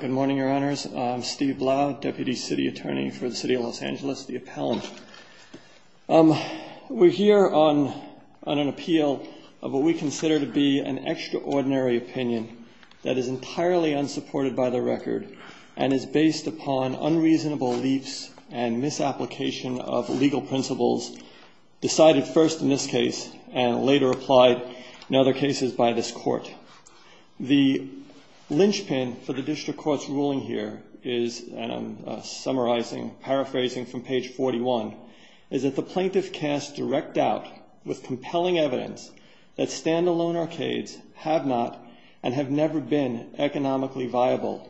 Good morning, Your Honors. I'm Steve Blau, Deputy City Attorney for the City of Los Angeles, the Appellant. We're here on an appeal of what we consider to be an extraordinary opinion that is entirely unsupported by the record and is based upon unreasonable beliefs and misapplication of legal principles decided first in this case and later applied, in other cases, by this Court. The linchpin for the District Court's ruling here is, and I'm summarizing, paraphrasing from page 41, is that the plaintiff casts direct doubt with compelling evidence that stand-alone arcades have not and have never been economically viable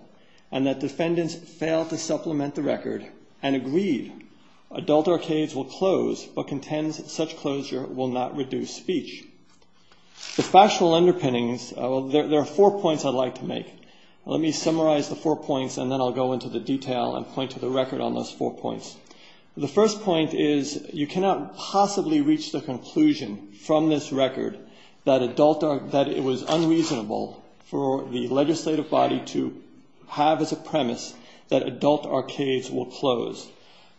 and that defendants failed to supplement the record and agreed adult arcades will close but contends such closure will not reduce speech. The factual underpinnings, there are four points I'd like to make. Let me summarize the four points and then I'll go into the detail and point to the record on those four points. The first point is you cannot possibly reach the conclusion from this record that it was unreasonable for the legislative body to have as a premise that adult arcades will close.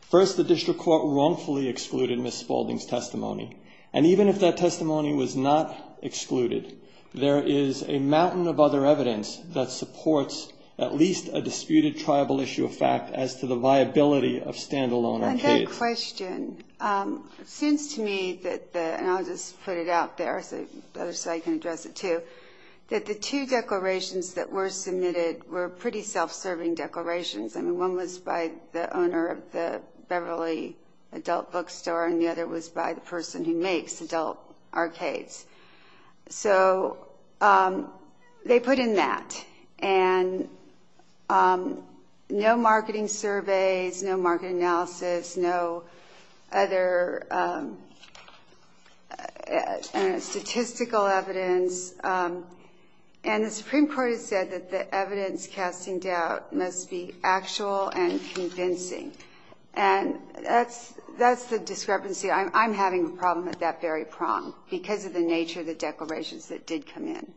First, the District Court wrongfully excluded Ms. Spaulding's testimony, and even if that testimony was not excluded, there is a mountain of other evidence that supports at least a disputed tribal issue of fact as to the viability of stand-alone arcades. I've got a question. It seems to me that the, and I'll just put it out there so the other side can address it too, that the two declarations that were submitted were pretty self-serving declarations. I mean, one was by the owner of the Beverly Adult Bookstore and the other was by the person who makes adult arcades. So they put in that, and no marketing surveys, no market analysis, no other statistical evidence, and the Supreme Court has said that the evidence casting doubt must be actual and convincing, and that's the discrepancy. I'm having a problem at that very prong because of the nature of the declarations that did come in.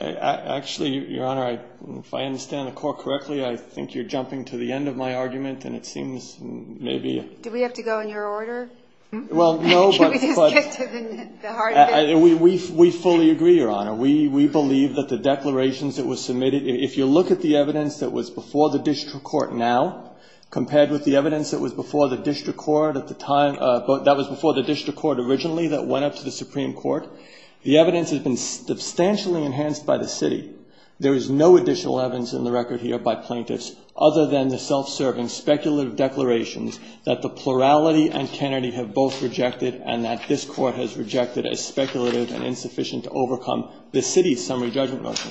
Actually, Your Honor, if I understand the Court correctly, I think you're jumping to the end of my argument, and it seems maybe... Do we have to go in your order? Well, no, but... Can we just get to the heart of it? We fully agree, Your Honor. We believe that the declarations that were submitted, if you look at the evidence that was before the District Court now originally that went up to the Supreme Court, the evidence has been substantially enhanced by the city. There is no additional evidence in the record here by plaintiffs other than the self-serving speculative declarations that the plurality and Kennedy have both rejected and that this Court has rejected as speculative and insufficient to overcome the city's summary judgment motion.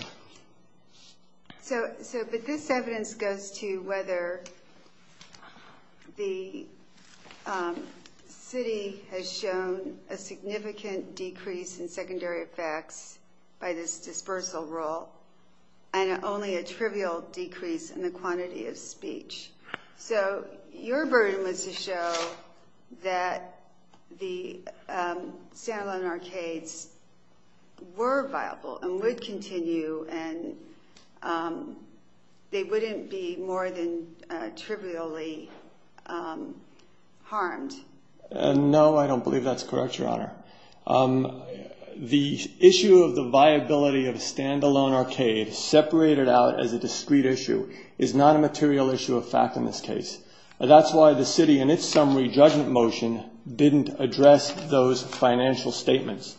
But this evidence goes to whether the city has shown a significant decrease in secondary effects by this dispersal rule and only a trivial decrease in the quantity of speech. So your burden was to show that the standalone arcades were viable and would continue and they wouldn't be more than trivially harmed. No, I don't believe that's correct, Your Honor. The issue of the viability of a standalone arcade separated out as a discrete issue is not a material issue of fact in this case. That's why the city in its summary judgment motion didn't address those financial statements.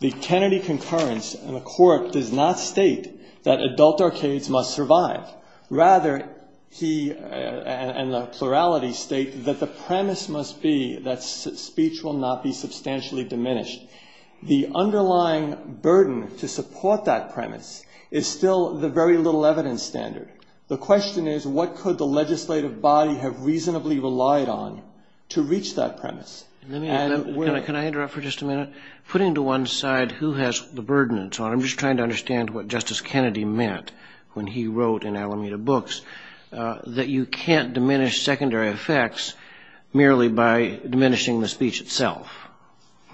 The Kennedy concurrence in the Court does not state that adult arcades must survive. Rather, he and the plurality state that the premise must be that speech will not be substantially diminished. The underlying burden to support that premise is still the very little evidence standard. The question is what could the legislative body have reasonably relied on to reach that premise. Let me interrupt. Can I interrupt for just a minute? Putting to one side who has the burden and so on, I'm just trying to understand what Justice Kennedy meant when he wrote in Alameda Books that you can't diminish secondary effects merely by diminishing the speech itself.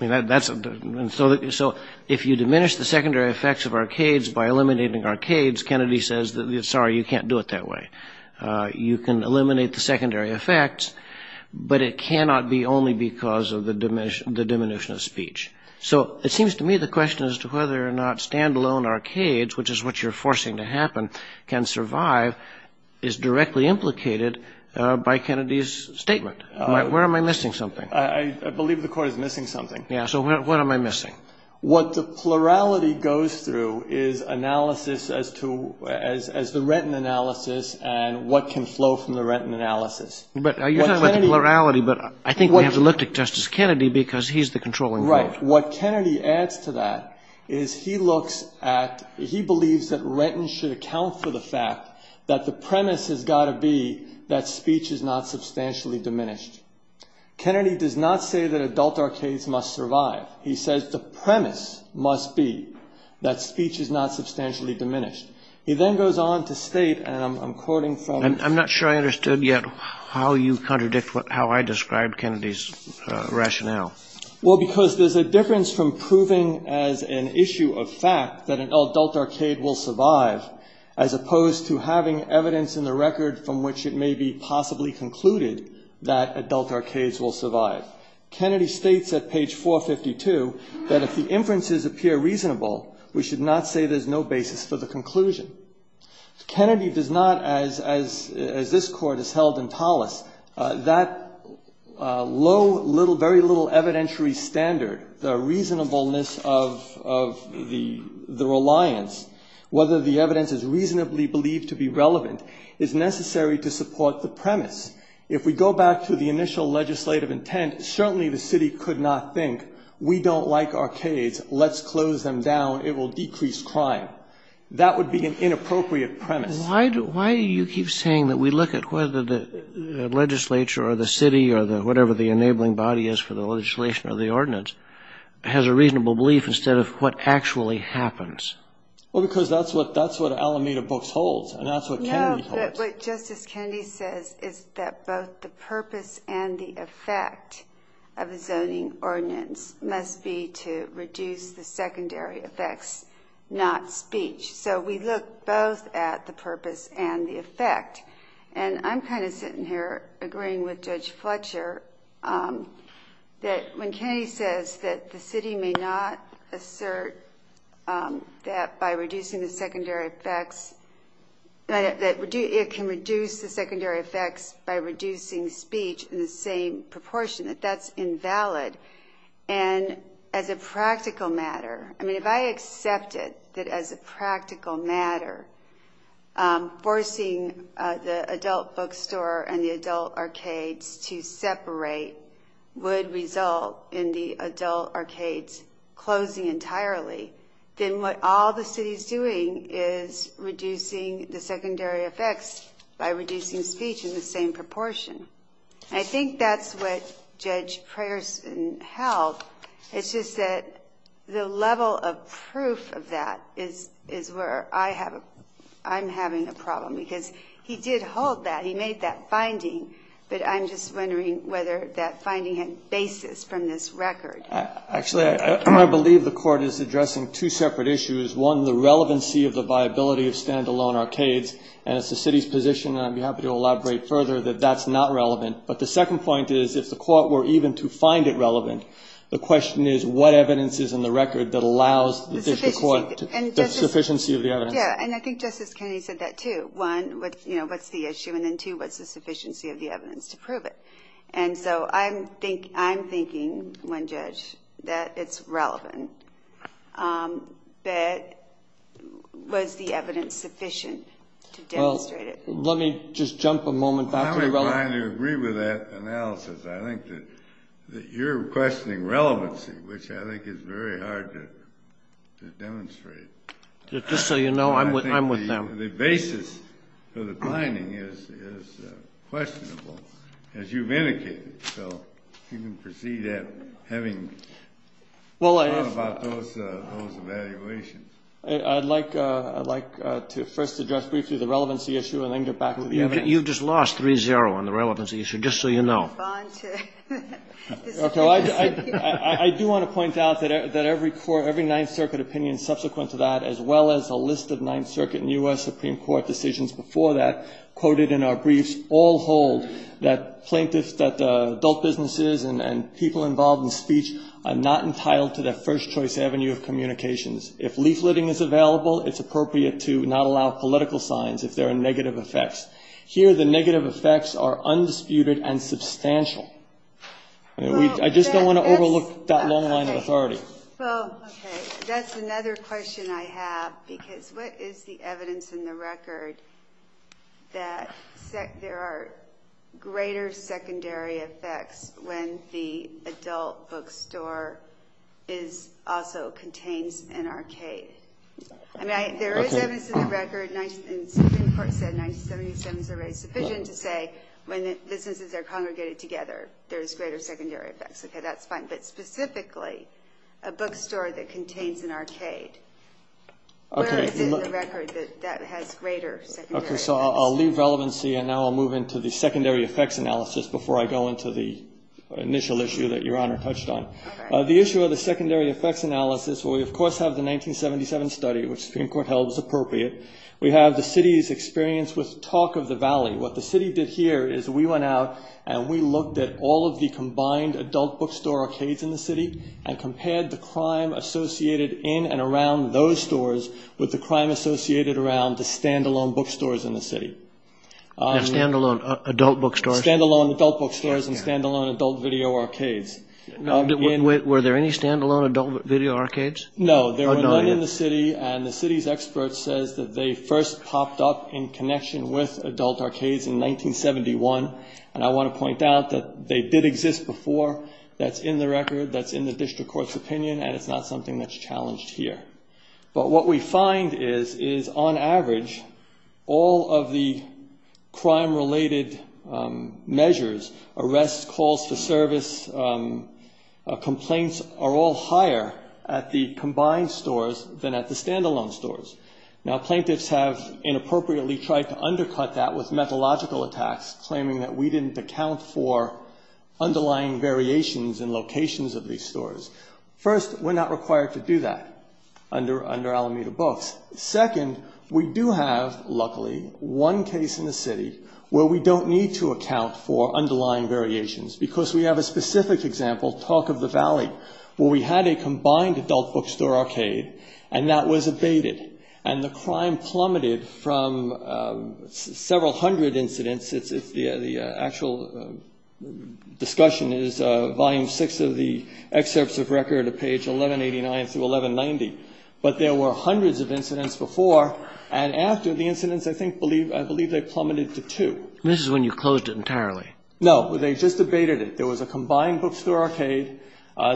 So if you diminish the secondary effects of arcades by eliminating arcades, Kennedy says, sorry, you can't do it that way. You can eliminate the secondary effects, but it cannot be only because of the diminution of speech. So it seems to me the question as to whether or not standalone arcades, which is what you're forcing to happen, can survive is directly implicated by Kennedy's statement. Where am I missing something? I believe the Court is missing something. Yeah, so what am I missing? What the plurality goes through is analysis as to, as the retin analysis and what can flow from the retin analysis. But you're talking about the plurality, but I think we have to look at Justice Kennedy because he's the controlling vote. Right. What Kennedy adds to that is he looks at, he believes that retin should account for the fact that the premise has got to be that speech is not substantially diminished. Kennedy does not say that adult arcades must survive. He says the premise must be that speech is not substantially diminished. He then goes on to state, and I'm quoting from. I'm not sure I understood yet how you contradict how I described Kennedy's rationale. Well, because there's a difference from proving as an issue of fact that an adult arcade will survive, as opposed to having evidence in the record from which it may be possibly concluded that adult arcades will survive. Kennedy states at page 452 that if the inferences appear reasonable, we should not say there's no basis for the conclusion. Kennedy does not, as this Court has held in Tullis, that low, little, very little evidentiary standard, the reasonableness of the reliance, whether the evidence is reasonably believed to be relevant, is necessary to support the premise. If we go back to the initial legislative intent, certainly the city could not think, we don't like arcades, let's close them down, it will decrease crime. That would be an inappropriate premise. Why do you keep saying that we look at whether the legislature or the city or whatever the enabling body is for the legislation or the ordinance has a reasonable belief instead of what actually happens? Well, because that's what Alameda books holds, and that's what Kennedy holds. No, but what Justice Kennedy says is that both the purpose and the effect of a zoning ordinance must be to reduce the secondary effects, not speech. So we look both at the purpose and the effect. And I'm kind of sitting here agreeing with Judge Fletcher that when Kennedy says that the city may not assert that by reducing the secondary effects, that it can reduce the secondary effects by reducing speech in the same proportion, that that's invalid. And as a practical matter, I mean, if I accepted that as a practical matter, forcing the adult bookstore and the adult arcades to separate would result in the adult arcades closing entirely, then what all the city's doing is reducing the secondary effects by reducing speech in the same proportion. I think that's what Judge Prayerson held. It's just that the level of proof of that is where I'm having a problem, because he did hold that. He made that finding. But I'm just wondering whether that finding had basis from this record. Actually, I believe the Court is addressing two separate issues. One, the relevancy of the viability of standalone arcades, and it's the city's position, and I'd be happy to elaborate further, that that's not relevant. But the second point is, if the Court were even to find it relevant, the question is, what evidence is in the record that allows the District Court the sufficiency of the evidence? Yeah, and I think Justice Kennedy said that, too. One, what's the issue? And then, two, what's the sufficiency of the evidence to prove it? And so I'm thinking, one judge, that it's relevant. But was the evidence sufficient to demonstrate it? Let me just jump a moment back. I'm inclined to agree with that analysis. I think that you're questioning relevancy, which I think is very hard to demonstrate. Just so you know, I'm with them. I think the basis for the finding is questionable, as you've indicated. So you can proceed at having thought about those evaluations. I'd like to first address briefly the relevancy issue, and then get back to the evidence. You've just lost 3-0 on the relevancy issue, just so you know. Okay. I do want to point out that every court, every Ninth Circuit opinion subsequent to that, as well as a list of Ninth Circuit and U.S. Supreme Court decisions before that quoted in our briefs, all hold that plaintiffs, that adult businesses and people involved in speech are not entitled to their first choice avenue of communications. If leafleting is available, it's appropriate to not allow political signs if there are negative effects. Here, the negative effects are undisputed and substantial. I just don't want to overlook that long line of authority. That's another question I have, because what is the evidence in the record that there are greater I mean, there is evidence in the record, and Supreme Court said 1977 is the rate sufficient to say when businesses are congregated together, there's greater secondary effects. Okay, that's fine. But specifically, a bookstore that contains an arcade. Where is it in the record that that has greater secondary effects? Okay, so I'll leave relevancy, and now I'll move into the secondary effects analysis before I go into the initial issue that Your Honor touched on. Okay. The issue of the secondary effects analysis, we of course have the 1977 study, which the Supreme Court held was appropriate. We have the city's experience with talk of the valley. What the city did here is we went out and we looked at all of the combined adult bookstore arcades in the city and compared the crime associated in and around those stores with the crime associated around the stand-alone bookstores in the city. Stand-alone adult bookstores? Stand-alone adult bookstores and stand-alone adult video arcades. Were there any stand-alone adult video arcades? No, there were none in the city, and the city's expert says that they first popped up in connection with adult arcades in 1971. And I want to point out that they did exist before. That's in the record, that's in the district court's opinion, and it's not something that's challenged here. But what we find is, on average, all of the crime-related measures, arrests, calls to service, complaints, are all higher at the combined stores than at the stand-alone stores. Now, plaintiffs have inappropriately tried to undercut that with methodological attacks, claiming that we didn't account for underlying variations in locations of these stores. First, we're not required to do that under Alameda Books. Second, we do have, luckily, one case in the city where we don't need to account for underlying variations, because we have a specific example, Talk of the Valley, where we had a combined adult bookstore arcade, and that was abated, and the crime plummeted from several hundred incidents. The actual discussion is Volume 6 of the Excerpts of Record, page 1189 through 1190. But there were hundreds of incidents before, and after the incidents, I think, I believe they plummeted to two. This is when you closed it entirely. No. They just abated it. There was a combined bookstore arcade.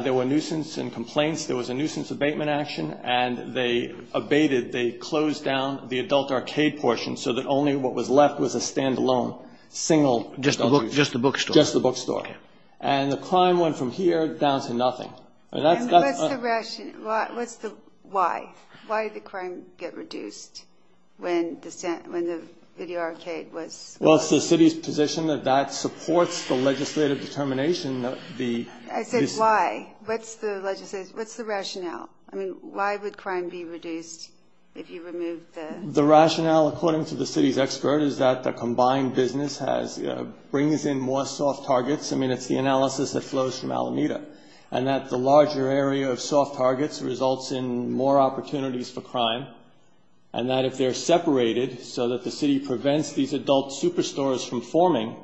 There were nuisance and complaints. There was a nuisance abatement action, and they abated, they closed down the adult arcade portion so that only what was left was a stand-alone single adult bookstore. Just the bookstore. And the crime went from here down to nothing. What's the rationale? Why? Why did the crime get reduced when the video arcade was closed? Well, it's the city's position that that supports the legislative determination. I said why. What's the rationale? I mean, why would crime be reduced if you removed the... The rationale, according to the city's expert, is that the combined business brings in more soft targets. I mean, it's the analysis that flows from Alameda. And that the larger area of soft targets results in more opportunities for crime. And that if they're separated so that the city prevents these adult superstores from forming,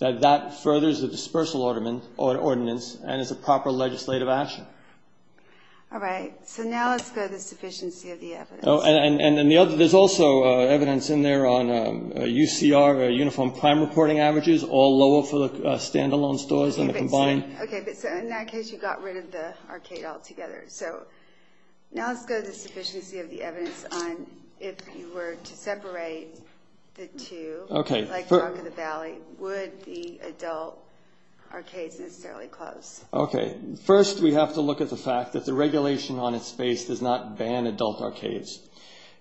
that that furthers the dispersal ordinance and is a proper legislative action. All right. So now let's go to the sufficiency of the evidence. And the other, there's also evidence in there on UCR, uniform crime reporting averages, all lower for the stand-alone stores than the combined. Okay. So in that case, you got rid of the arcade altogether. So now let's go to the sufficiency of the evidence on if you were to separate the two. Okay. Like Rock of the Valley, would the adult arcades necessarily close? Okay. First, we have to look at the fact that the regulation on its face does not ban adult arcades.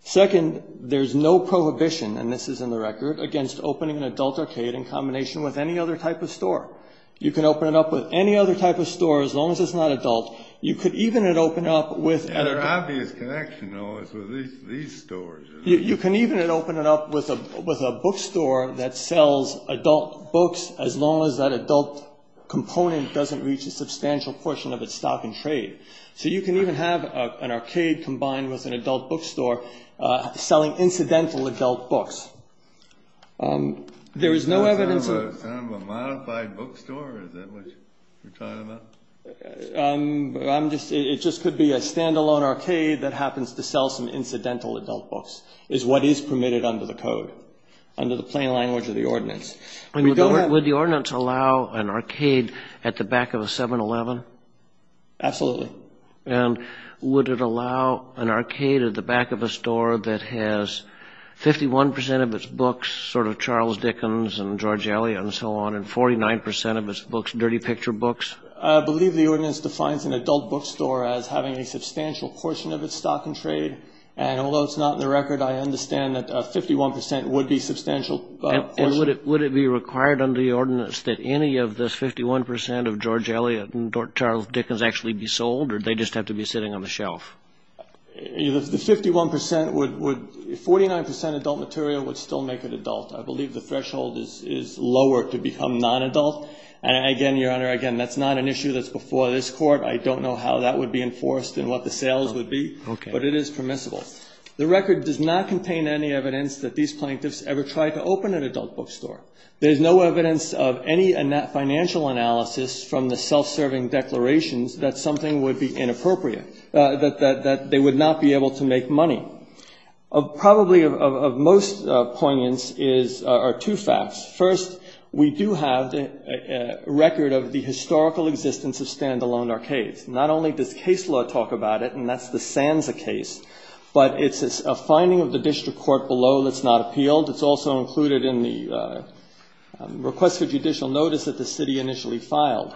Second, there's no prohibition, and this is in the record, against opening an adult arcade in combination with any other type of store. You can open it up with any other type of store, as long as it's not adult. You could even open it up with an adult. There's an obvious connection, though, with these stores. You can even open it up with a bookstore that sells adult books, as long as that adult component doesn't reach a substantial portion of its stock and trade. So you can even have an arcade combined with an adult bookstore selling incidental adult books. There is no evidence of... Is that a modified bookstore? Is that what you're talking about? It just could be a standalone arcade that happens to sell some incidental adult books, is what is permitted under the code, under the plain language of the ordinance. Would the ordinance allow an arcade at the back of a 7-Eleven? Absolutely. And would it allow an arcade at the back of a store that has 51% of its books, sort of Charles Dickens and George Eliot and so on, and 49% of its books, dirty picture books? I believe the ordinance defines an adult bookstore as having a substantial portion of its stock and trade, and although it's not in the record, I understand that 51% would be substantial. And would it be required under the ordinance that any of this 51% of George Eliot and Charles Dickens actually be sold, or do they just have to be sitting on the shelf? The 51% would, 49% adult material would still make it adult. I believe the threshold is lower to become non-adult. And again, Your Honor, again, that's not an issue that's before this Court. I don't know how that would be enforced and what the sales would be. Okay. But it is permissible. The record does not contain any evidence that these plaintiffs ever tried to open an adult bookstore. There is no evidence of any financial analysis from the self-serving declarations that something would be inappropriate, that they would not be able to make money. Probably of most poignance are two facts. First, we do have a record of the historical existence of standalone arcades. Not only does case law talk about it, and that's the Sansa case, but it's a finding of the district court below that's not appealed. It's also included in the request for judicial notice that the city initially filed.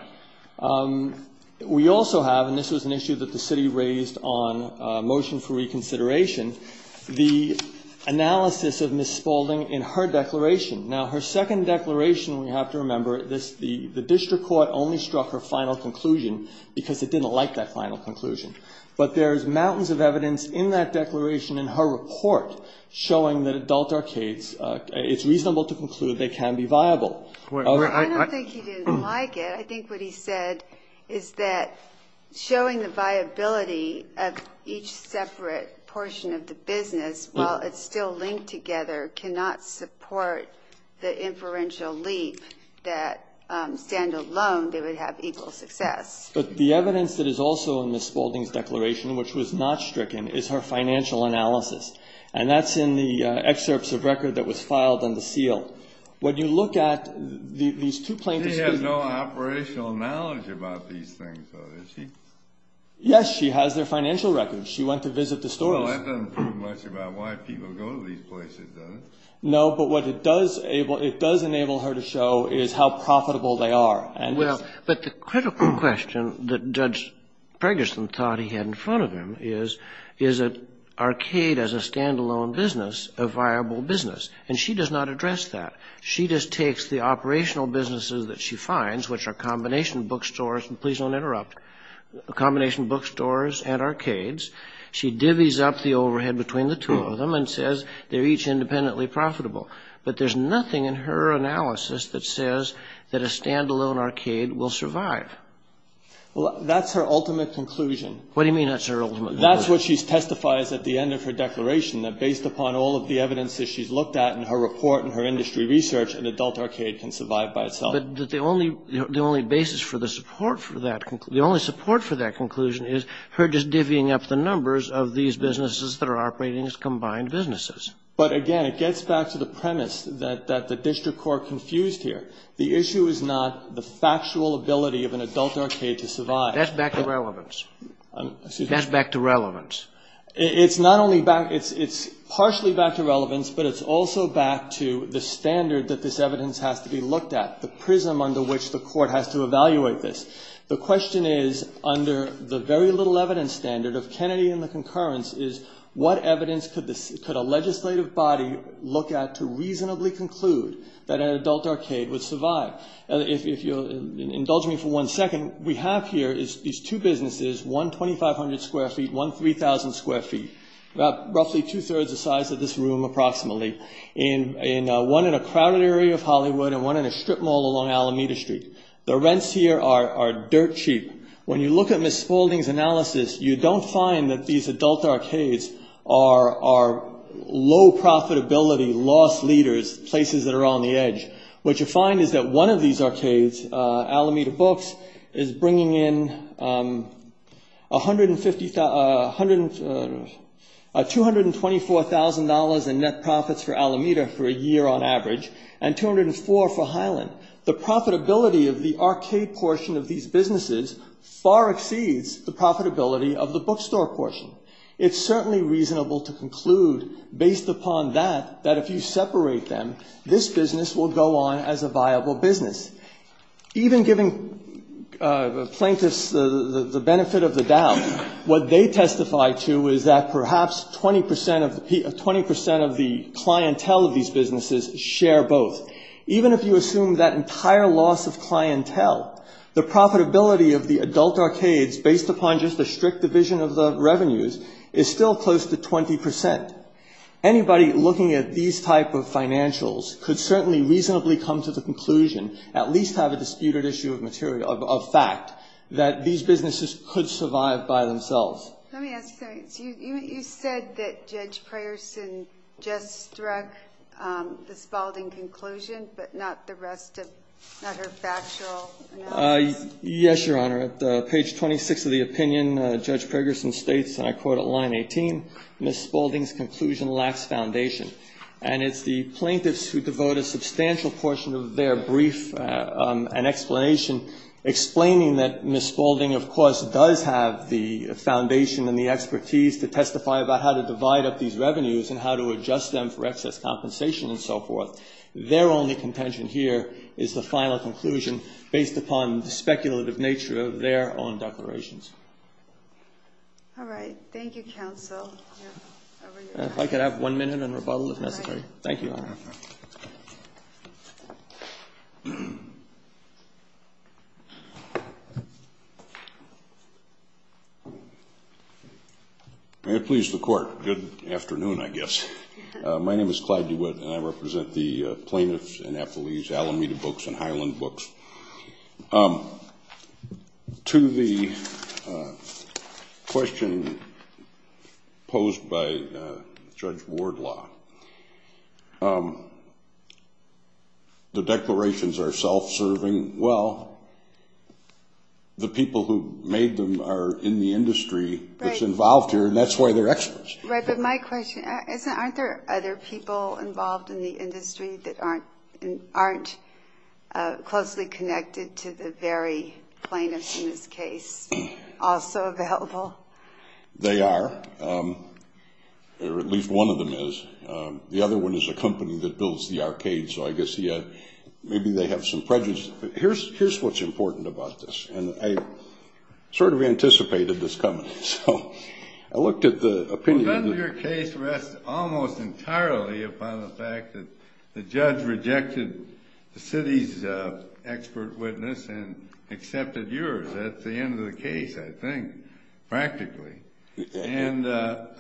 We also have, and this was an issue that the city raised on motion for reconsideration, the analysis of Ms. Spaulding in her declaration. Now, her second declaration, we have to remember, the district court only struck her final conclusion because it didn't like that final conclusion. But there's mountains of evidence in that declaration in her report showing that adult arcades, it's reasonable to conclude they can be viable. I don't think he didn't like it. I think what he said is that showing the viability of each separate portion of the business, while it's still linked together, cannot support the inferential leap that standalone, they would have equal success. But the evidence that is also in Ms. Spaulding's declaration, which was not stricken, is her financial analysis. And that's in the excerpts of record that was filed on the seal. When you look at these two plaintiffs' cases. She has no operational knowledge about these things, though, does she? Yes, she has their financial records. She went to visit the store. Well, that doesn't prove much about why people go to these places, does it? No, but what it does enable her to show is how profitable they are. But the critical question that Judge Preggerson thought he had in front of him is, is an arcade as a standalone business a viable business? And she does not address that. She just takes the operational businesses that she finds, which are combination bookstores, and please don't interrupt, combination bookstores and arcades. She divvies up the overhead between the two of them and says they're each independently profitable. But there's nothing in her analysis that says that a standalone arcade will survive. Well, that's her ultimate conclusion. What do you mean that's her ultimate conclusion? That's what she testifies at the end of her declaration, that based upon all of the evidence that she's looked at in her report and her industry research, an adult arcade can survive by itself. But the only basis for the support for that conclusion, the only support for that conclusion is her just divvying up the numbers of these businesses that are operating as combined businesses. But, again, it gets back to the premise that the district court confused here. The issue is not the factual ability of an adult arcade to survive. That's back to relevance. Excuse me? That's back to relevance. It's not only back, it's partially back to relevance, but it's also back to the standard that this evidence has to be looked at, the prism under which the court has to evaluate this. The question is, under the very little evidence standard of Kennedy and the concurrence, is what evidence could a legislative body look at to reasonably conclude that an adult arcade would survive? If you'll indulge me for one second, we have here these two businesses, one 2,500 square feet, one 3,000 square feet, roughly two-thirds the size of this room approximately, one in a crowded area of Hollywood and one in a strip mall along Alameda Street. The rents here are dirt cheap. When you look at Ms. Spaulding's analysis, you don't find that these adult arcades are low profitability, lost leaders, places that are on the edge. What you find is that one of these arcades, Alameda Books, is bringing in $224,000 in net profits for Alameda for a year on average and $204,000 for Highland. The profitability of the arcade portion of these businesses far exceeds the profitability of the bookstore portion. It's certainly reasonable to conclude, based upon that, that if you separate them, this business will go on as a viable business. Even giving plaintiffs the benefit of the doubt, what they testify to is that perhaps 20 percent of the clientele of these businesses share both. Even if you assume that entire loss of clientele, the profitability of the adult arcades based upon just a strict division of the revenues is still close to 20 percent. Anybody looking at these type of financials could certainly reasonably come to the conclusion, at least have a disputed issue of fact, that these businesses could survive by themselves. Let me ask you something. You said that Judge Prayerson just struck the Spaulding conclusion, but not the rest of her factual analysis? Yes, Your Honor. At page 26 of the opinion, Judge Prayerson states, and I quote at line 18, Ms. Spaulding's conclusion lacks foundation. And it's the plaintiffs who devote a substantial portion of their brief and explanation explaining that Ms. Spaulding, of course, does have the foundation and the expertise to testify about how to divide up these revenues and how to adjust them for excess compensation and so forth. Their only contention here is the final conclusion based upon the speculative nature of their own declarations. All right. Thank you, counsel. If I could have one minute and rebuttal if necessary. Thank you, Your Honor. May it please the Court. Good afternoon, I guess. My name is Clyde DeWitt, and I represent the plaintiffs and affilees, Alameda Books and Highland Books. To the question posed by Judge Wardlaw, the declarations are self-serving. Well, the people who made them are in the industry that's involved here, and that's why they're experts. Right, but my question is, aren't there other people involved in the industry that aren't closely connected to the very plaintiffs in this case? Also available? They are, or at least one of them is. The other one is a company that builds the arcades, so I guess maybe they have some prejudice. But here's what's important about this, and I sort of anticipated this coming. Well, none of your case rests almost entirely upon the fact that the judge rejected the city's expert witness and accepted yours. That's the end of the case, I think, practically. And I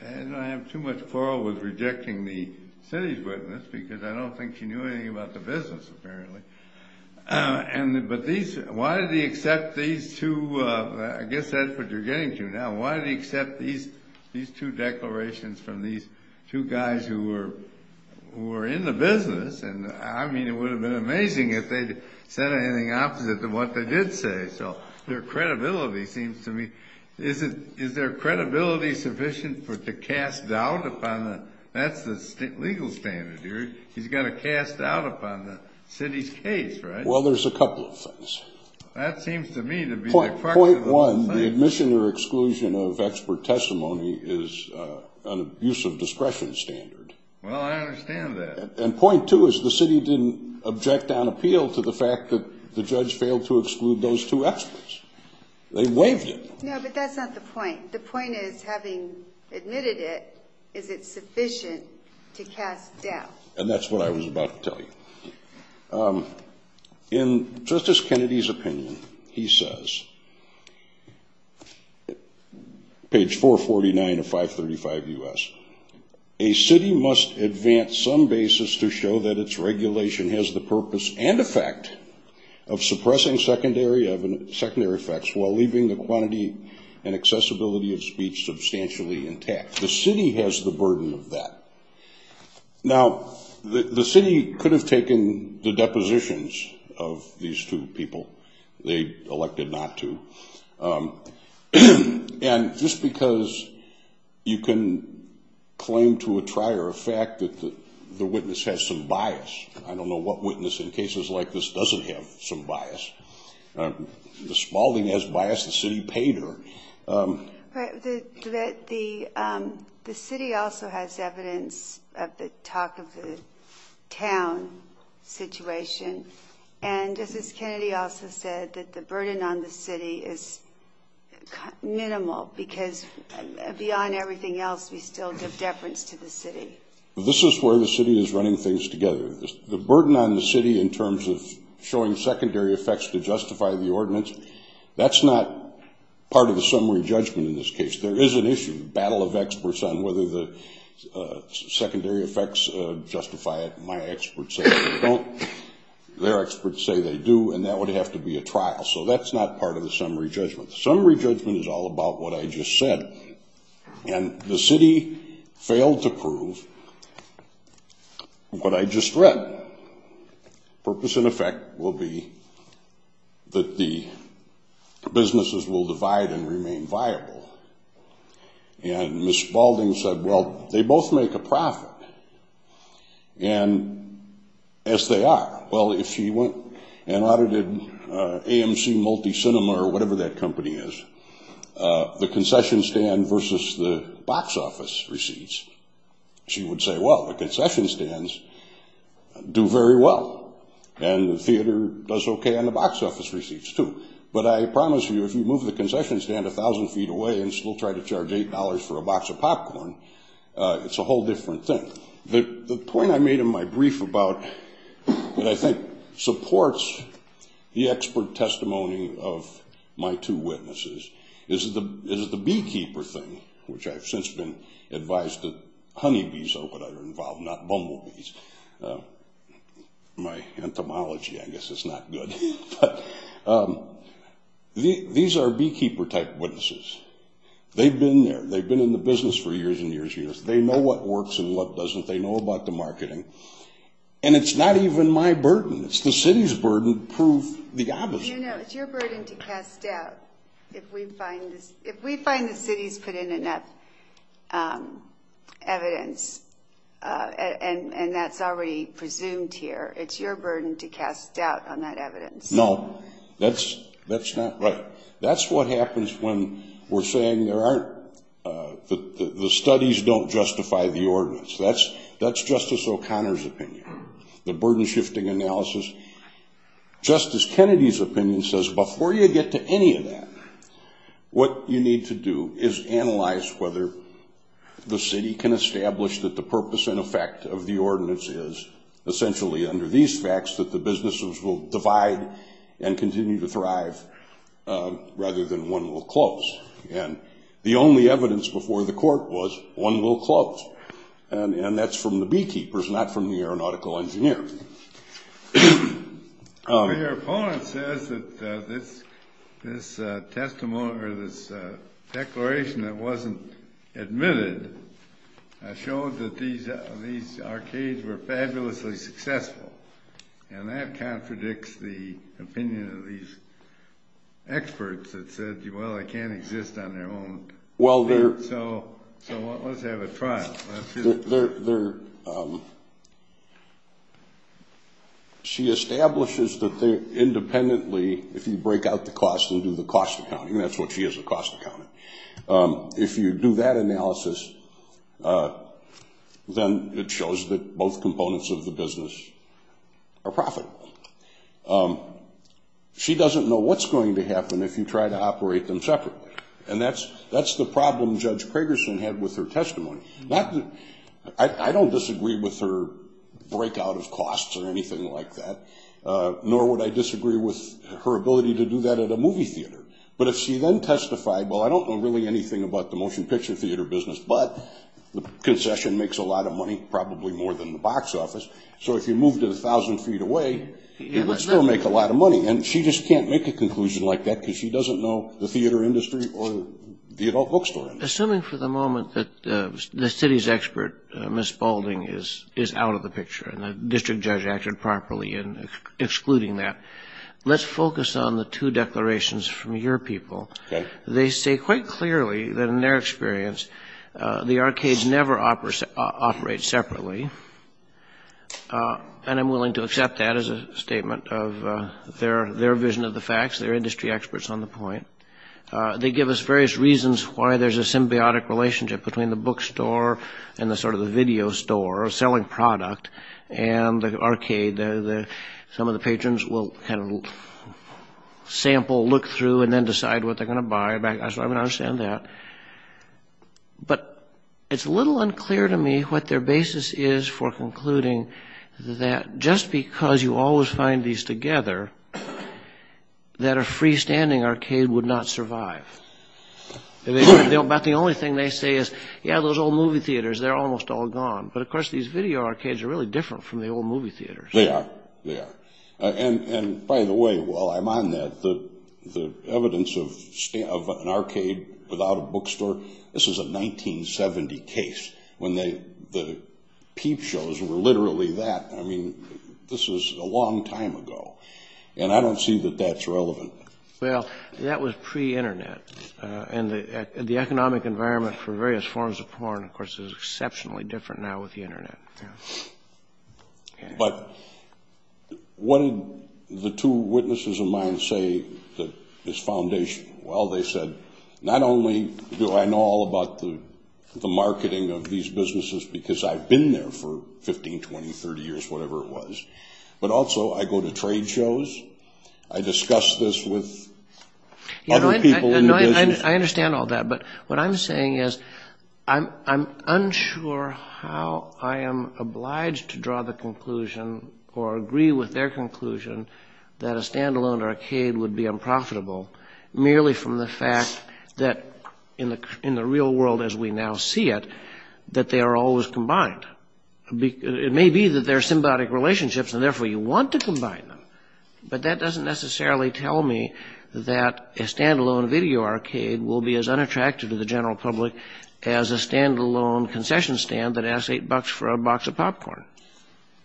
have too much quarrel with rejecting the city's witness, because I don't think she knew anything about the business, apparently. But why did he accept these two – I guess that's what you're getting to now. Why did he accept these two declarations from these two guys who were in the business? I mean, it would have been amazing if they'd said anything opposite of what they did say. So their credibility seems to me – is their credibility sufficient to cast doubt upon the – that's the legal standard here. He's going to cast doubt upon the city's case, right? Well, there's a couple of things. That seems to me to be the crux of the whole thing. Point one, the admission or exclusion of expert testimony is an abuse of discretion standard. Well, I understand that. And point two is the city didn't object on appeal to the fact that the judge failed to exclude those two experts. They waived it. No, but that's not the point. The point is, having admitted it, is it sufficient to cast doubt? And that's what I was about to tell you. In Justice Kennedy's opinion, he says, page 449 of 535 U.S., a city must advance some basis to show that its regulation has the purpose and effect of suppressing secondary effects while leaving the quantity and accessibility of speech substantially intact. The city has the burden of that. Now, the city could have taken the depositions of these two people. They elected not to. And just because you can claim to a trier a fact that the witness has some bias. I don't know what witness in cases like this doesn't have some bias. The Spaulding has bias. The city paid her. The city also has evidence of the talk of the town situation. And Justice Kennedy also said that the burden on the city is minimal, because beyond everything else we still give deference to the city. This is where the city is running things together. The burden on the city in terms of showing secondary effects to justify the ordinance, that's not part of the summary judgment in this case. There is an issue, battle of experts on whether the secondary effects justify it. My experts say they don't. Their experts say they do, and that would have to be a trial. So that's not part of the summary judgment. The summary judgment is all about what I just said. And the city failed to prove what I just read. Purpose and effect will be that the businesses will divide and remain viable. And Ms. Spaulding said, well, they both make a profit. And as they are, well, if she went and audited AMC Multicinema, or whatever that company is, the concession stand versus the box office receipts, she would say, well, the concession stands do very well, and the theater does okay on the box office receipts, too. But I promise you, if you move the concession stand 1,000 feet away and still try to charge $8 for a box of popcorn, it's a whole different thing. The point I made in my brief about what I think supports the expert testimony of my two witnesses is the beekeeper thing, which I've since been advised that honeybees are what are involved, not bumblebees. My entomology, I guess, is not good. But these are beekeeper-type witnesses. They've been there. They've been in the business for years and years and years. They know what works and what doesn't. They know about the marketing. And it's not even my burden. It's the city's burden to prove the opposite. You know, it's your burden to cast doubt. If we find the city's put in enough evidence, and that's already presumed here, it's your burden to cast doubt on that evidence. No, that's not right. That's what happens when we're saying the studies don't justify the ordinance. That's Justice O'Connor's opinion. The burden-shifting analysis. Justice Kennedy's opinion says before you get to any of that, what you need to do is analyze whether the city can establish that the purpose and effect of the ordinance is essentially, under these facts, that the businesses will divide and continue to thrive rather than one will close. And the only evidence before the court was one will close. And that's from the beekeepers, not from the aeronautical engineer. Your opponent says that this testimony or this declaration that wasn't admitted showed that these arcades were fabulously successful. And that contradicts the opinion of these experts that said, well, they can't exist on their own. So let's have a trial. She establishes that independently, if you break out the cost and do the cost accounting, that's what she is, the cost accountant. If you do that analysis, then it shows that both components of the business are profitable. She doesn't know what's going to happen if you try to operate them separately. And that's the problem Judge Kragerson had with her testimony. I don't disagree with her breakout of costs or anything like that, nor would I disagree with her ability to do that at a movie theater. But if she then testified, well, I don't know really anything about the motion picture theater business, but the concession makes a lot of money, probably more than the box office. So if you moved it 1,000 feet away, it would still make a lot of money. And she just can't make a conclusion like that because she doesn't know the theater industry or the adult bookstore. Well, assuming for the moment that the city's expert, Ms. Balding, is out of the picture and the district judge acted properly in excluding that, let's focus on the two declarations from your people. They say quite clearly that in their experience the arcades never operate separately. And I'm willing to accept that as a statement of their vision of the facts. They're industry experts on the point. They give us various reasons why there's a symbiotic relationship between the bookstore and the sort of the video store, selling product, and the arcade. Some of the patrons will kind of sample, look through, and then decide what they're going to buy. So I understand that. But it's a little unclear to me what their basis is for concluding that just because you always find these together, that a freestanding arcade would not survive. But the only thing they say is, yeah, those old movie theaters, they're almost all gone. But, of course, these video arcades are really different from the old movie theaters. They are. They are. And, by the way, while I'm on that, the evidence of an arcade without a bookstore, this is a 1970 case. When the peep shows were literally that, I mean, this was a long time ago. And I don't see that that's relevant. Well, that was pre-Internet. And the economic environment for various forms of porn, of course, is exceptionally different now with the Internet. But what did the two witnesses of mine say that is foundation? Well, they said, not only do I know all about the marketing of these businesses because I've been there for 15, 20, 30 years, whatever it was, but also I go to trade shows. I discuss this with other people in the business. I understand all that. But what I'm saying is I'm unsure how I am obliged to draw the conclusion or agree with their conclusion that a standalone arcade would be unprofitable merely from the fact that in the real world as we now see it, that they are always combined. It may be that they're symbiotic relationships, and therefore you want to combine them. But that doesn't necessarily tell me that a standalone video arcade will be as unattractive to the general public as a standalone concession stand that asks eight bucks for a box of popcorn.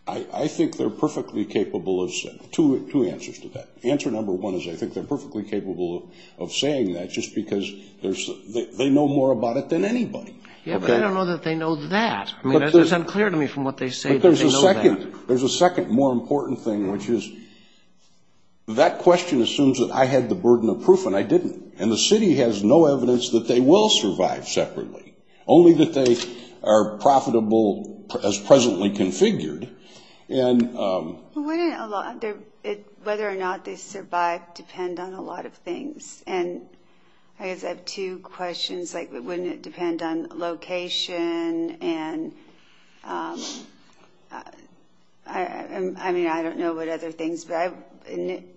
I think they're perfectly capable of two answers to that. Answer number one is I think they're perfectly capable of saying that just because they know more about it than anybody. Yeah, but I don't know that they know that. I mean, it's unclear to me from what they say that they know that. But there's a second more important thing, which is that question assumes that I had the burden of proof and I didn't. And the city has no evidence that they will survive separately, only that they are profitable as presently configured. Whether or not they survive depends on a lot of things. And I guess I have two questions. Like, wouldn't it depend on location? And I mean, I don't know what other things, but I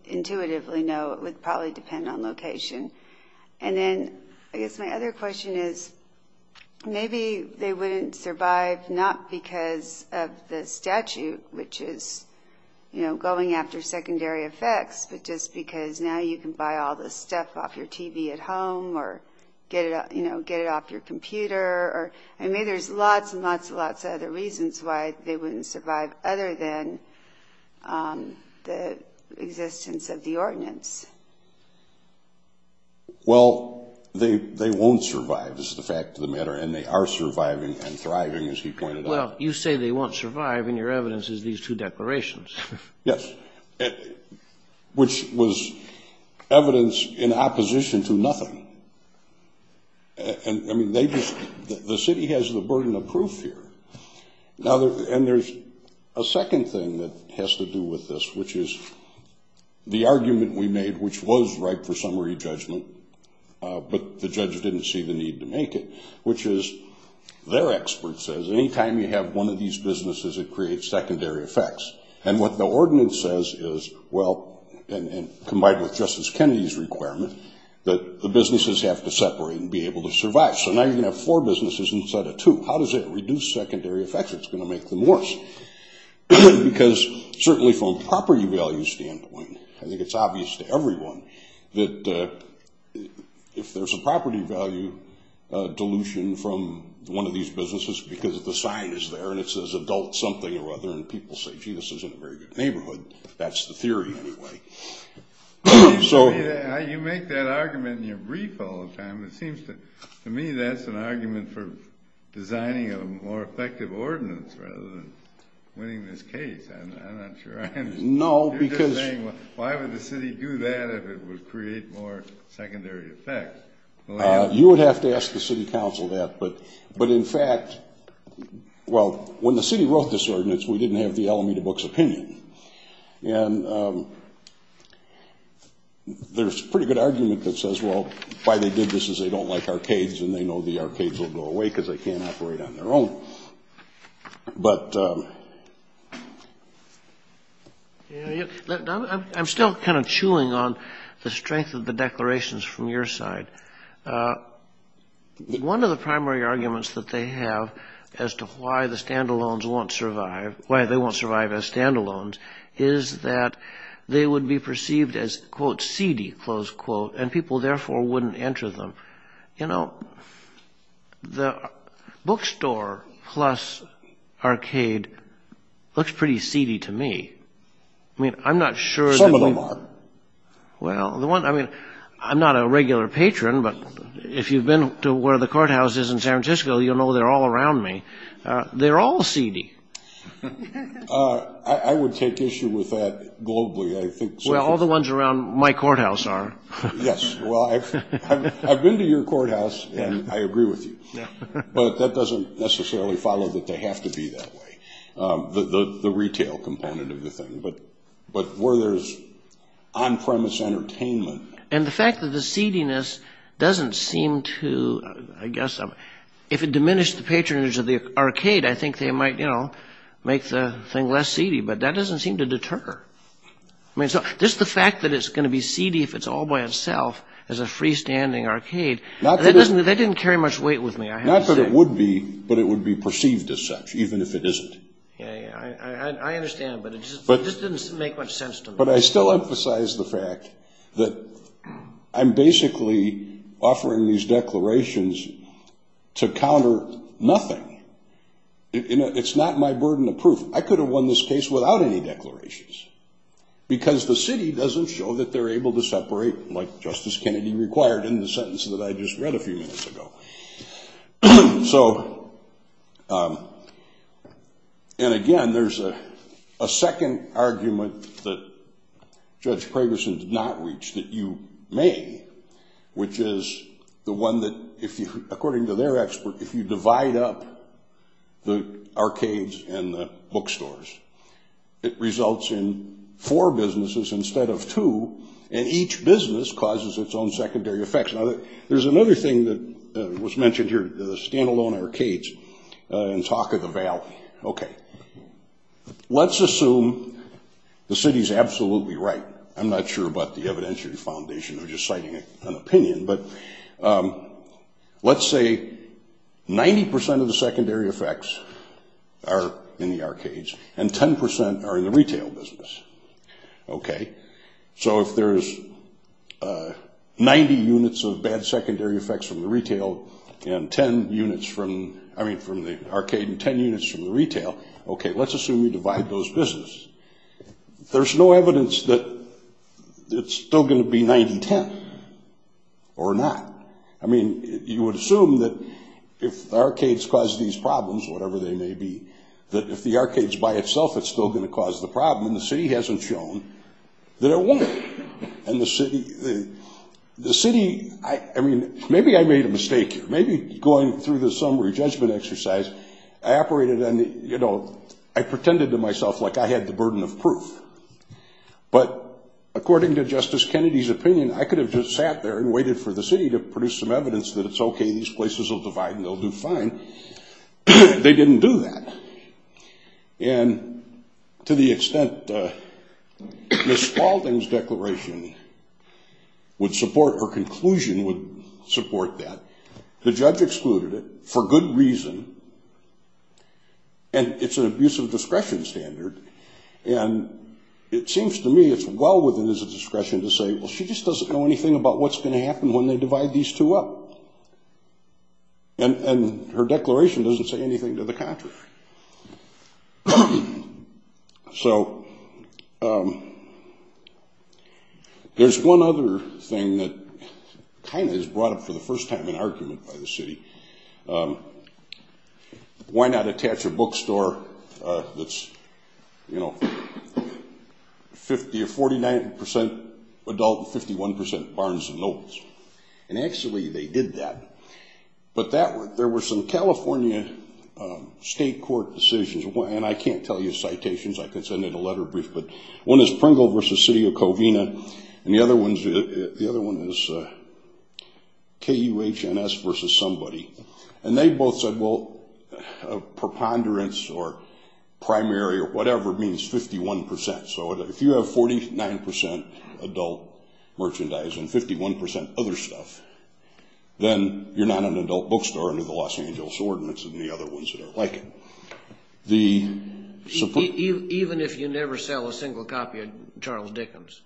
intuitively know it would probably depend on location. And then I guess my other question is maybe they wouldn't survive not because of the statute, which is going after secondary effects, but just because now you can buy all this stuff off your TV at home or get it off your computer. I mean, there's lots and lots and lots of other reasons why they wouldn't survive other than the existence of the ordinance. Well, they won't survive is the fact of the matter, and they are surviving and thriving, as he pointed out. Well, you say they won't survive, and your evidence is these two declarations. Yes, which was evidence in opposition to nothing. And I mean, the city has the burden of proof here. And there's a second thing that has to do with this, which is the argument we made, which was right for summary judgment, but the judge didn't see the need to make it, which is their expert says, any time you have one of these businesses, it creates secondary effects. And what the ordinance says is, well, and combined with Justice Kennedy's requirement, that the businesses have to separate and be able to survive. So now you're going to have four businesses instead of two. How does it reduce secondary effects? It's going to make them worse, because certainly from a property value standpoint, I think it's obvious to everyone that if there's a property value dilution from one of these businesses because the sign is there and it says adult something or other and people say, gee, this isn't a very good neighborhood, that's the theory anyway. You make that argument in your brief all the time. It seems to me that's an argument for designing a more effective ordinance rather than winning this case. I'm not sure I understand. No, because you're just saying, well, why would the city do that if it would create more secondary effects? You would have to ask the city council that. But in fact, well, when the city wrote this ordinance, we didn't have the Alameda Books opinion. And there's a pretty good argument that says, well, why they did this is they don't like arcades and they know the arcades will go away because they can't operate on their own. But I'm still kind of chewing on the strength of the declarations from your side. One of the primary arguments that they have as to why the standalones won't survive, why they won't survive as standalones, is that they would be perceived as, quote, seedy, close quote, and people therefore wouldn't enter them. You know, the bookstore plus arcade looks pretty seedy to me. I mean, I'm not sure. Some of them are. Well, I mean, I'm not a regular patron, but if you've been to where the courthouse is in San Francisco, you'll know they're all around me. They're all seedy. I would take issue with that globally, I think. Well, all the ones around my courthouse are. Yes. Well, I've been to your courthouse and I agree with you. But that doesn't necessarily follow that they have to be that way, the retail component of the thing. But where there's on-premise entertainment. And the fact that the seediness doesn't seem to, I guess, if it diminished the patronage of the arcade, I think they might, you know, make the thing less seedy. But that doesn't seem to deter. I mean, just the fact that it's going to be seedy if it's all by itself as a freestanding arcade, that didn't carry much weight with me. Not that it would be, but it would be perceived as such, even if it isn't. I understand, but it just didn't make much sense to me. But I still emphasize the fact that I'm basically offering these declarations to counter nothing. It's not my burden of proof. I could have won this case without any declarations. Because the city doesn't show that they're able to separate, like Justice Kennedy required in the sentence that I just read a few minutes ago. So, and again, there's a second argument that Judge Kragerson did not reach that you may, which is the one that, according to their expert, if you divide up the arcades and the bookstores, it results in four businesses instead of two. And each business causes its own secondary effects. Now, there's another thing that was mentioned here, the standalone arcades and talk of the valley. Okay. Let's assume the city's absolutely right. I'm not sure about the evidentiary foundation or just citing an opinion, but let's say 90% of the secondary effects are in the arcades and 10% are in the retail business. Okay. So if there's 90 units of bad secondary effects from the retail and 10 units from, I mean, from the arcade and 10 units from the retail, okay, let's assume you divide those businesses. There's no evidence that it's still going to be 90-10 or not. I mean, you would assume that if the arcades cause these problems, whatever they may be, that if the arcades by itself, it's still going to cause the problem, and the city hasn't shown that it won't. And the city, I mean, maybe I made a mistake here. Maybe going through the summary judgment exercise, I operated on the, you know, I pretended to myself like I had the burden of proof, but according to Justice Kennedy's opinion, I could have just sat there and waited for the city to produce some evidence that it's okay, these places will divide and they'll do fine. They didn't do that. And to the extent Ms. Spaulding's declaration would support or conclusion would support that, the judge excluded it for good reason, and it's an abusive discretion standard, and it seems to me it's well within his discretion to say, well, she just doesn't know anything about what's going to happen when they divide these two up. And her declaration doesn't say anything to the contrary. So there's one other thing that kind of is brought up for the first time in argument by the city. Why not attach a bookstore that's, you know, 50% or 49% adult and 51% barns and nobles? And actually they did that. But there were some California state court decisions, and I can't tell you citations, I could send in a letter brief, but one is Pringle v. City of Covina, and the other one is KUHNS v. Somebody. And they both said, well, preponderance or primary or whatever means 51%. So if you have 49% adult merchandise and 51% other stuff, then you're not an adult bookstore under the Los Angeles Ordinance and the other ones that are like it. Even if you never sell a single copy of Charles Dickens?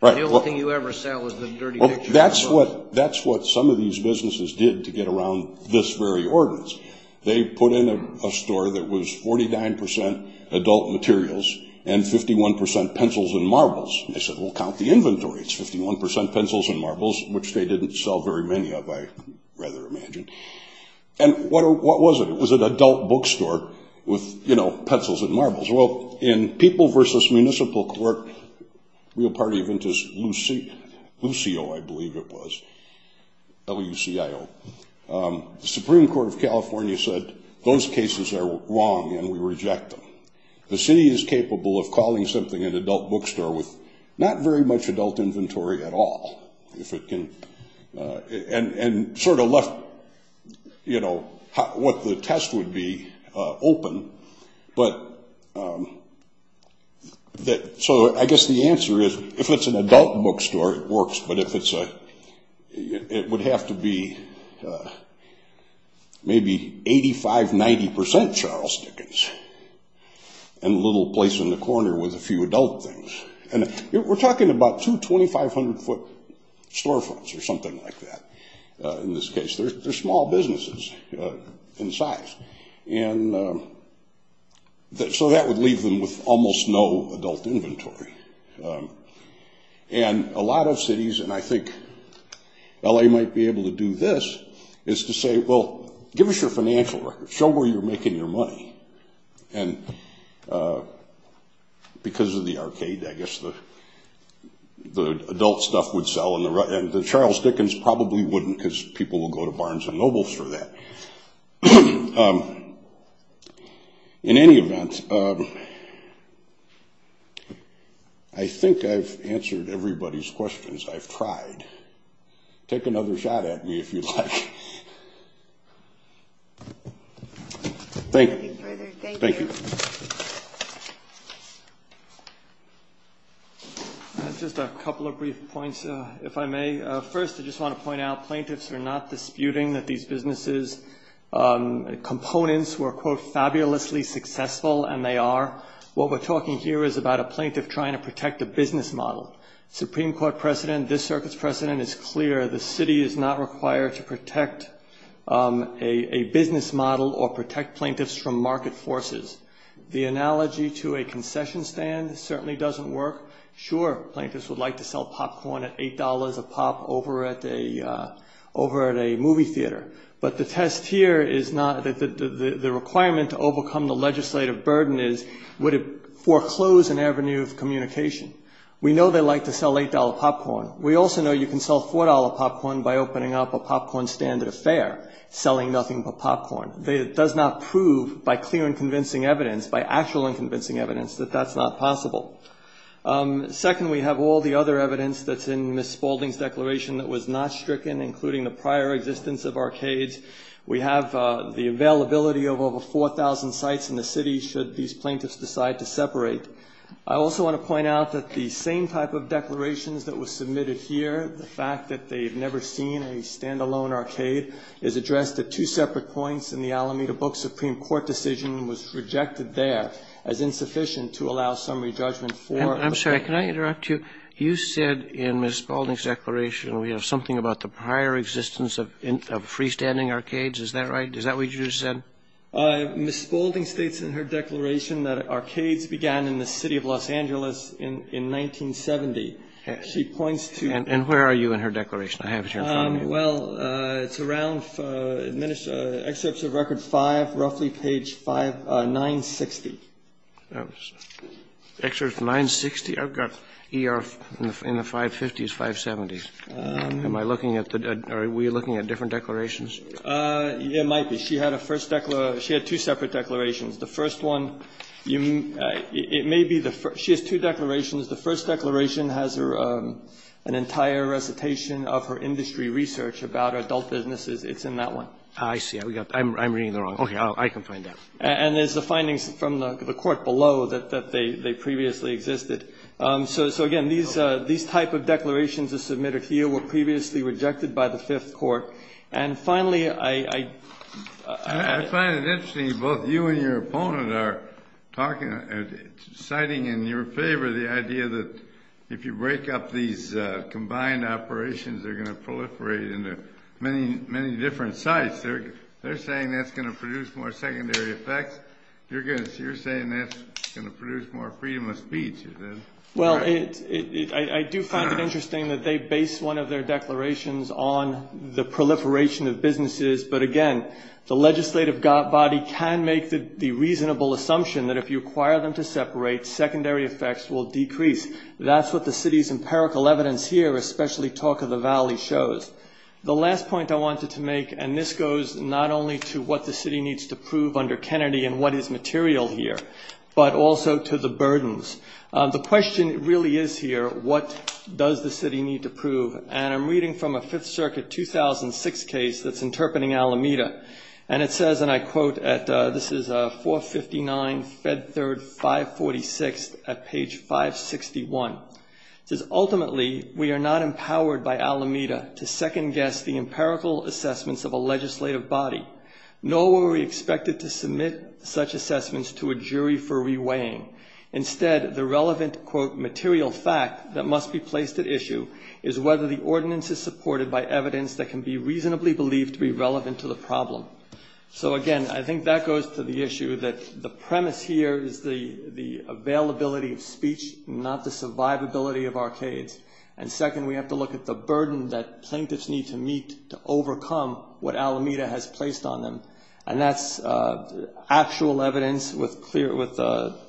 Right. The only thing you ever sell is the dirty picture. That's what some of these businesses did to get around this very ordinance. They put in a store that was 49% adult materials and 51% pencils and marbles. They said, well, count the inventory. It's 51% pencils and marbles, which they didn't sell very many of, I rather imagine. And what was it? It was an adult bookstore with, you know, pencils and marbles. Well, in People v. Municipal Court, real party event is Lucio, I believe it was, L-U-C-I-O, the Supreme Court of California said those cases are wrong and we reject them. The city is capable of calling something an adult bookstore with not very much adult inventory at all, and sort of left, you know, what the test would be open. So I guess the answer is if it's an adult bookstore, it works, but it would have to be maybe 85%, 90% Charles Dickens and a little place in the corner with a few adult things. And we're talking about two 2,500-foot storefronts or something like that in this case. They're small businesses in size. And so that would leave them with almost no adult inventory. And a lot of cities, and I think L.A. might be able to do this, is to say, well, give us your financial records, show where you're making your money. And because of the arcade, I guess the adult stuff would sell, and the Charles Dickens probably wouldn't because people will go to Barnes & Noble for that. In any event, I think I've answered everybody's questions. I've tried. Take another shot at me if you'd like. Thank you. Thank you. Just a couple of brief points, if I may. First, I just want to point out plaintiffs are not disputing that these businesses' components were, quote, fabulously successful, and they are. What we're talking here is about a plaintiff trying to protect a business model. Supreme Court precedent, this circuit's precedent is clear. The city is not required to protect a business model or protect plaintiffs from market forces. The analogy to a concession stand certainly doesn't work. Sure, plaintiffs would like to sell popcorn at $8 a pop over at a movie theater. But the test here is not that the requirement to overcome the legislative burden is, would it foreclose an avenue of communication? We know they like to sell $8 popcorn. We also know you can sell $4 popcorn by opening up a popcorn standard affair, selling nothing but popcorn. It does not prove by clear and convincing evidence, by actual and convincing evidence, that that's not possible. Second, we have all the other evidence that's in Ms. Spaulding's declaration that was not stricken, including the prior existence of arcades. We have the availability of over 4,000 sites in the city should these plaintiffs decide to separate. I also want to point out that the same type of declarations that was submitted here, the fact that they've never seen a stand-alone arcade, is addressed at two separate points in the Alameda Book Supreme Court decision and was rejected there as insufficient to allow summary judgment for. I'm sorry. Can I interrupt you? You said in Ms. Spaulding's declaration we have something about the prior existence of freestanding arcades. Is that right? Is that what you said? Ms. Spaulding states in her declaration that arcades began in the city of Los Angeles in 1970. She points to the- And where are you in her declaration? I have it here in front of me. Well, it's around excerpts of Record 5, roughly page 960. Excerpt 960? I've got ER in the 550s, 570s. Am I looking at the-are we looking at different declarations? It might be. She had a first declaration. She had two separate declarations. The first one, it may be the first. She has two declarations. The first declaration has an entire recitation of her industry research about adult businesses. It's in that one. I see. I'm reading it wrong. Okay. I can find out. And there's the findings from the court below that they previously existed. So, again, these type of declarations that are submitted here were previously rejected by the Fifth Court. And, finally, I- I find it interesting both you and your opponent are citing in your favor the idea that if you break up these combined operations, they're going to proliferate into many different sites. They're saying that's going to produce more secondary effects. You're saying that's going to produce more freedom of speech. Well, I do find it interesting that they base one of their declarations on the proliferation of businesses. But, again, the legislative body can make the reasonable assumption that if you require them to separate, secondary effects will decrease. That's what the city's empirical evidence here, especially Talk of the Valley, shows. The last point I wanted to make, and this goes not only to what the city needs to prove under Kennedy and what is material here, but also to the burdens. The question really is here, what does the city need to prove? And I'm reading from a Fifth Circuit 2006 case that's interpreting Alameda. And it says, and I quote, this is 459 Fed Third 546 at page 561. It says, ultimately, we are not empowered by Alameda to second-guess the empirical assessments of a legislative body, nor were we expected to submit such assessments to a jury for reweighing. Instead, the relevant, quote, material fact that must be placed at issue is whether the ordinance is supported by evidence that can be reasonably believed to be relevant to the problem. So, again, I think that goes to the issue that the premise here is the availability of speech, not the survivability of arcades. And second, we have to look at the burden that plaintiffs need to meet to overcome what Alameda has placed on them. And that's actual evidence with clear,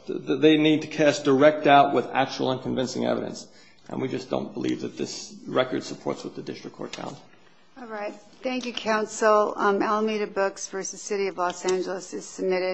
they need to cast direct doubt with actual and convincing evidence. And we just don't believe that this record supports what the district court found. All right. Thank you, counsel. Alameda Books v. City of Los Angeles is submitted.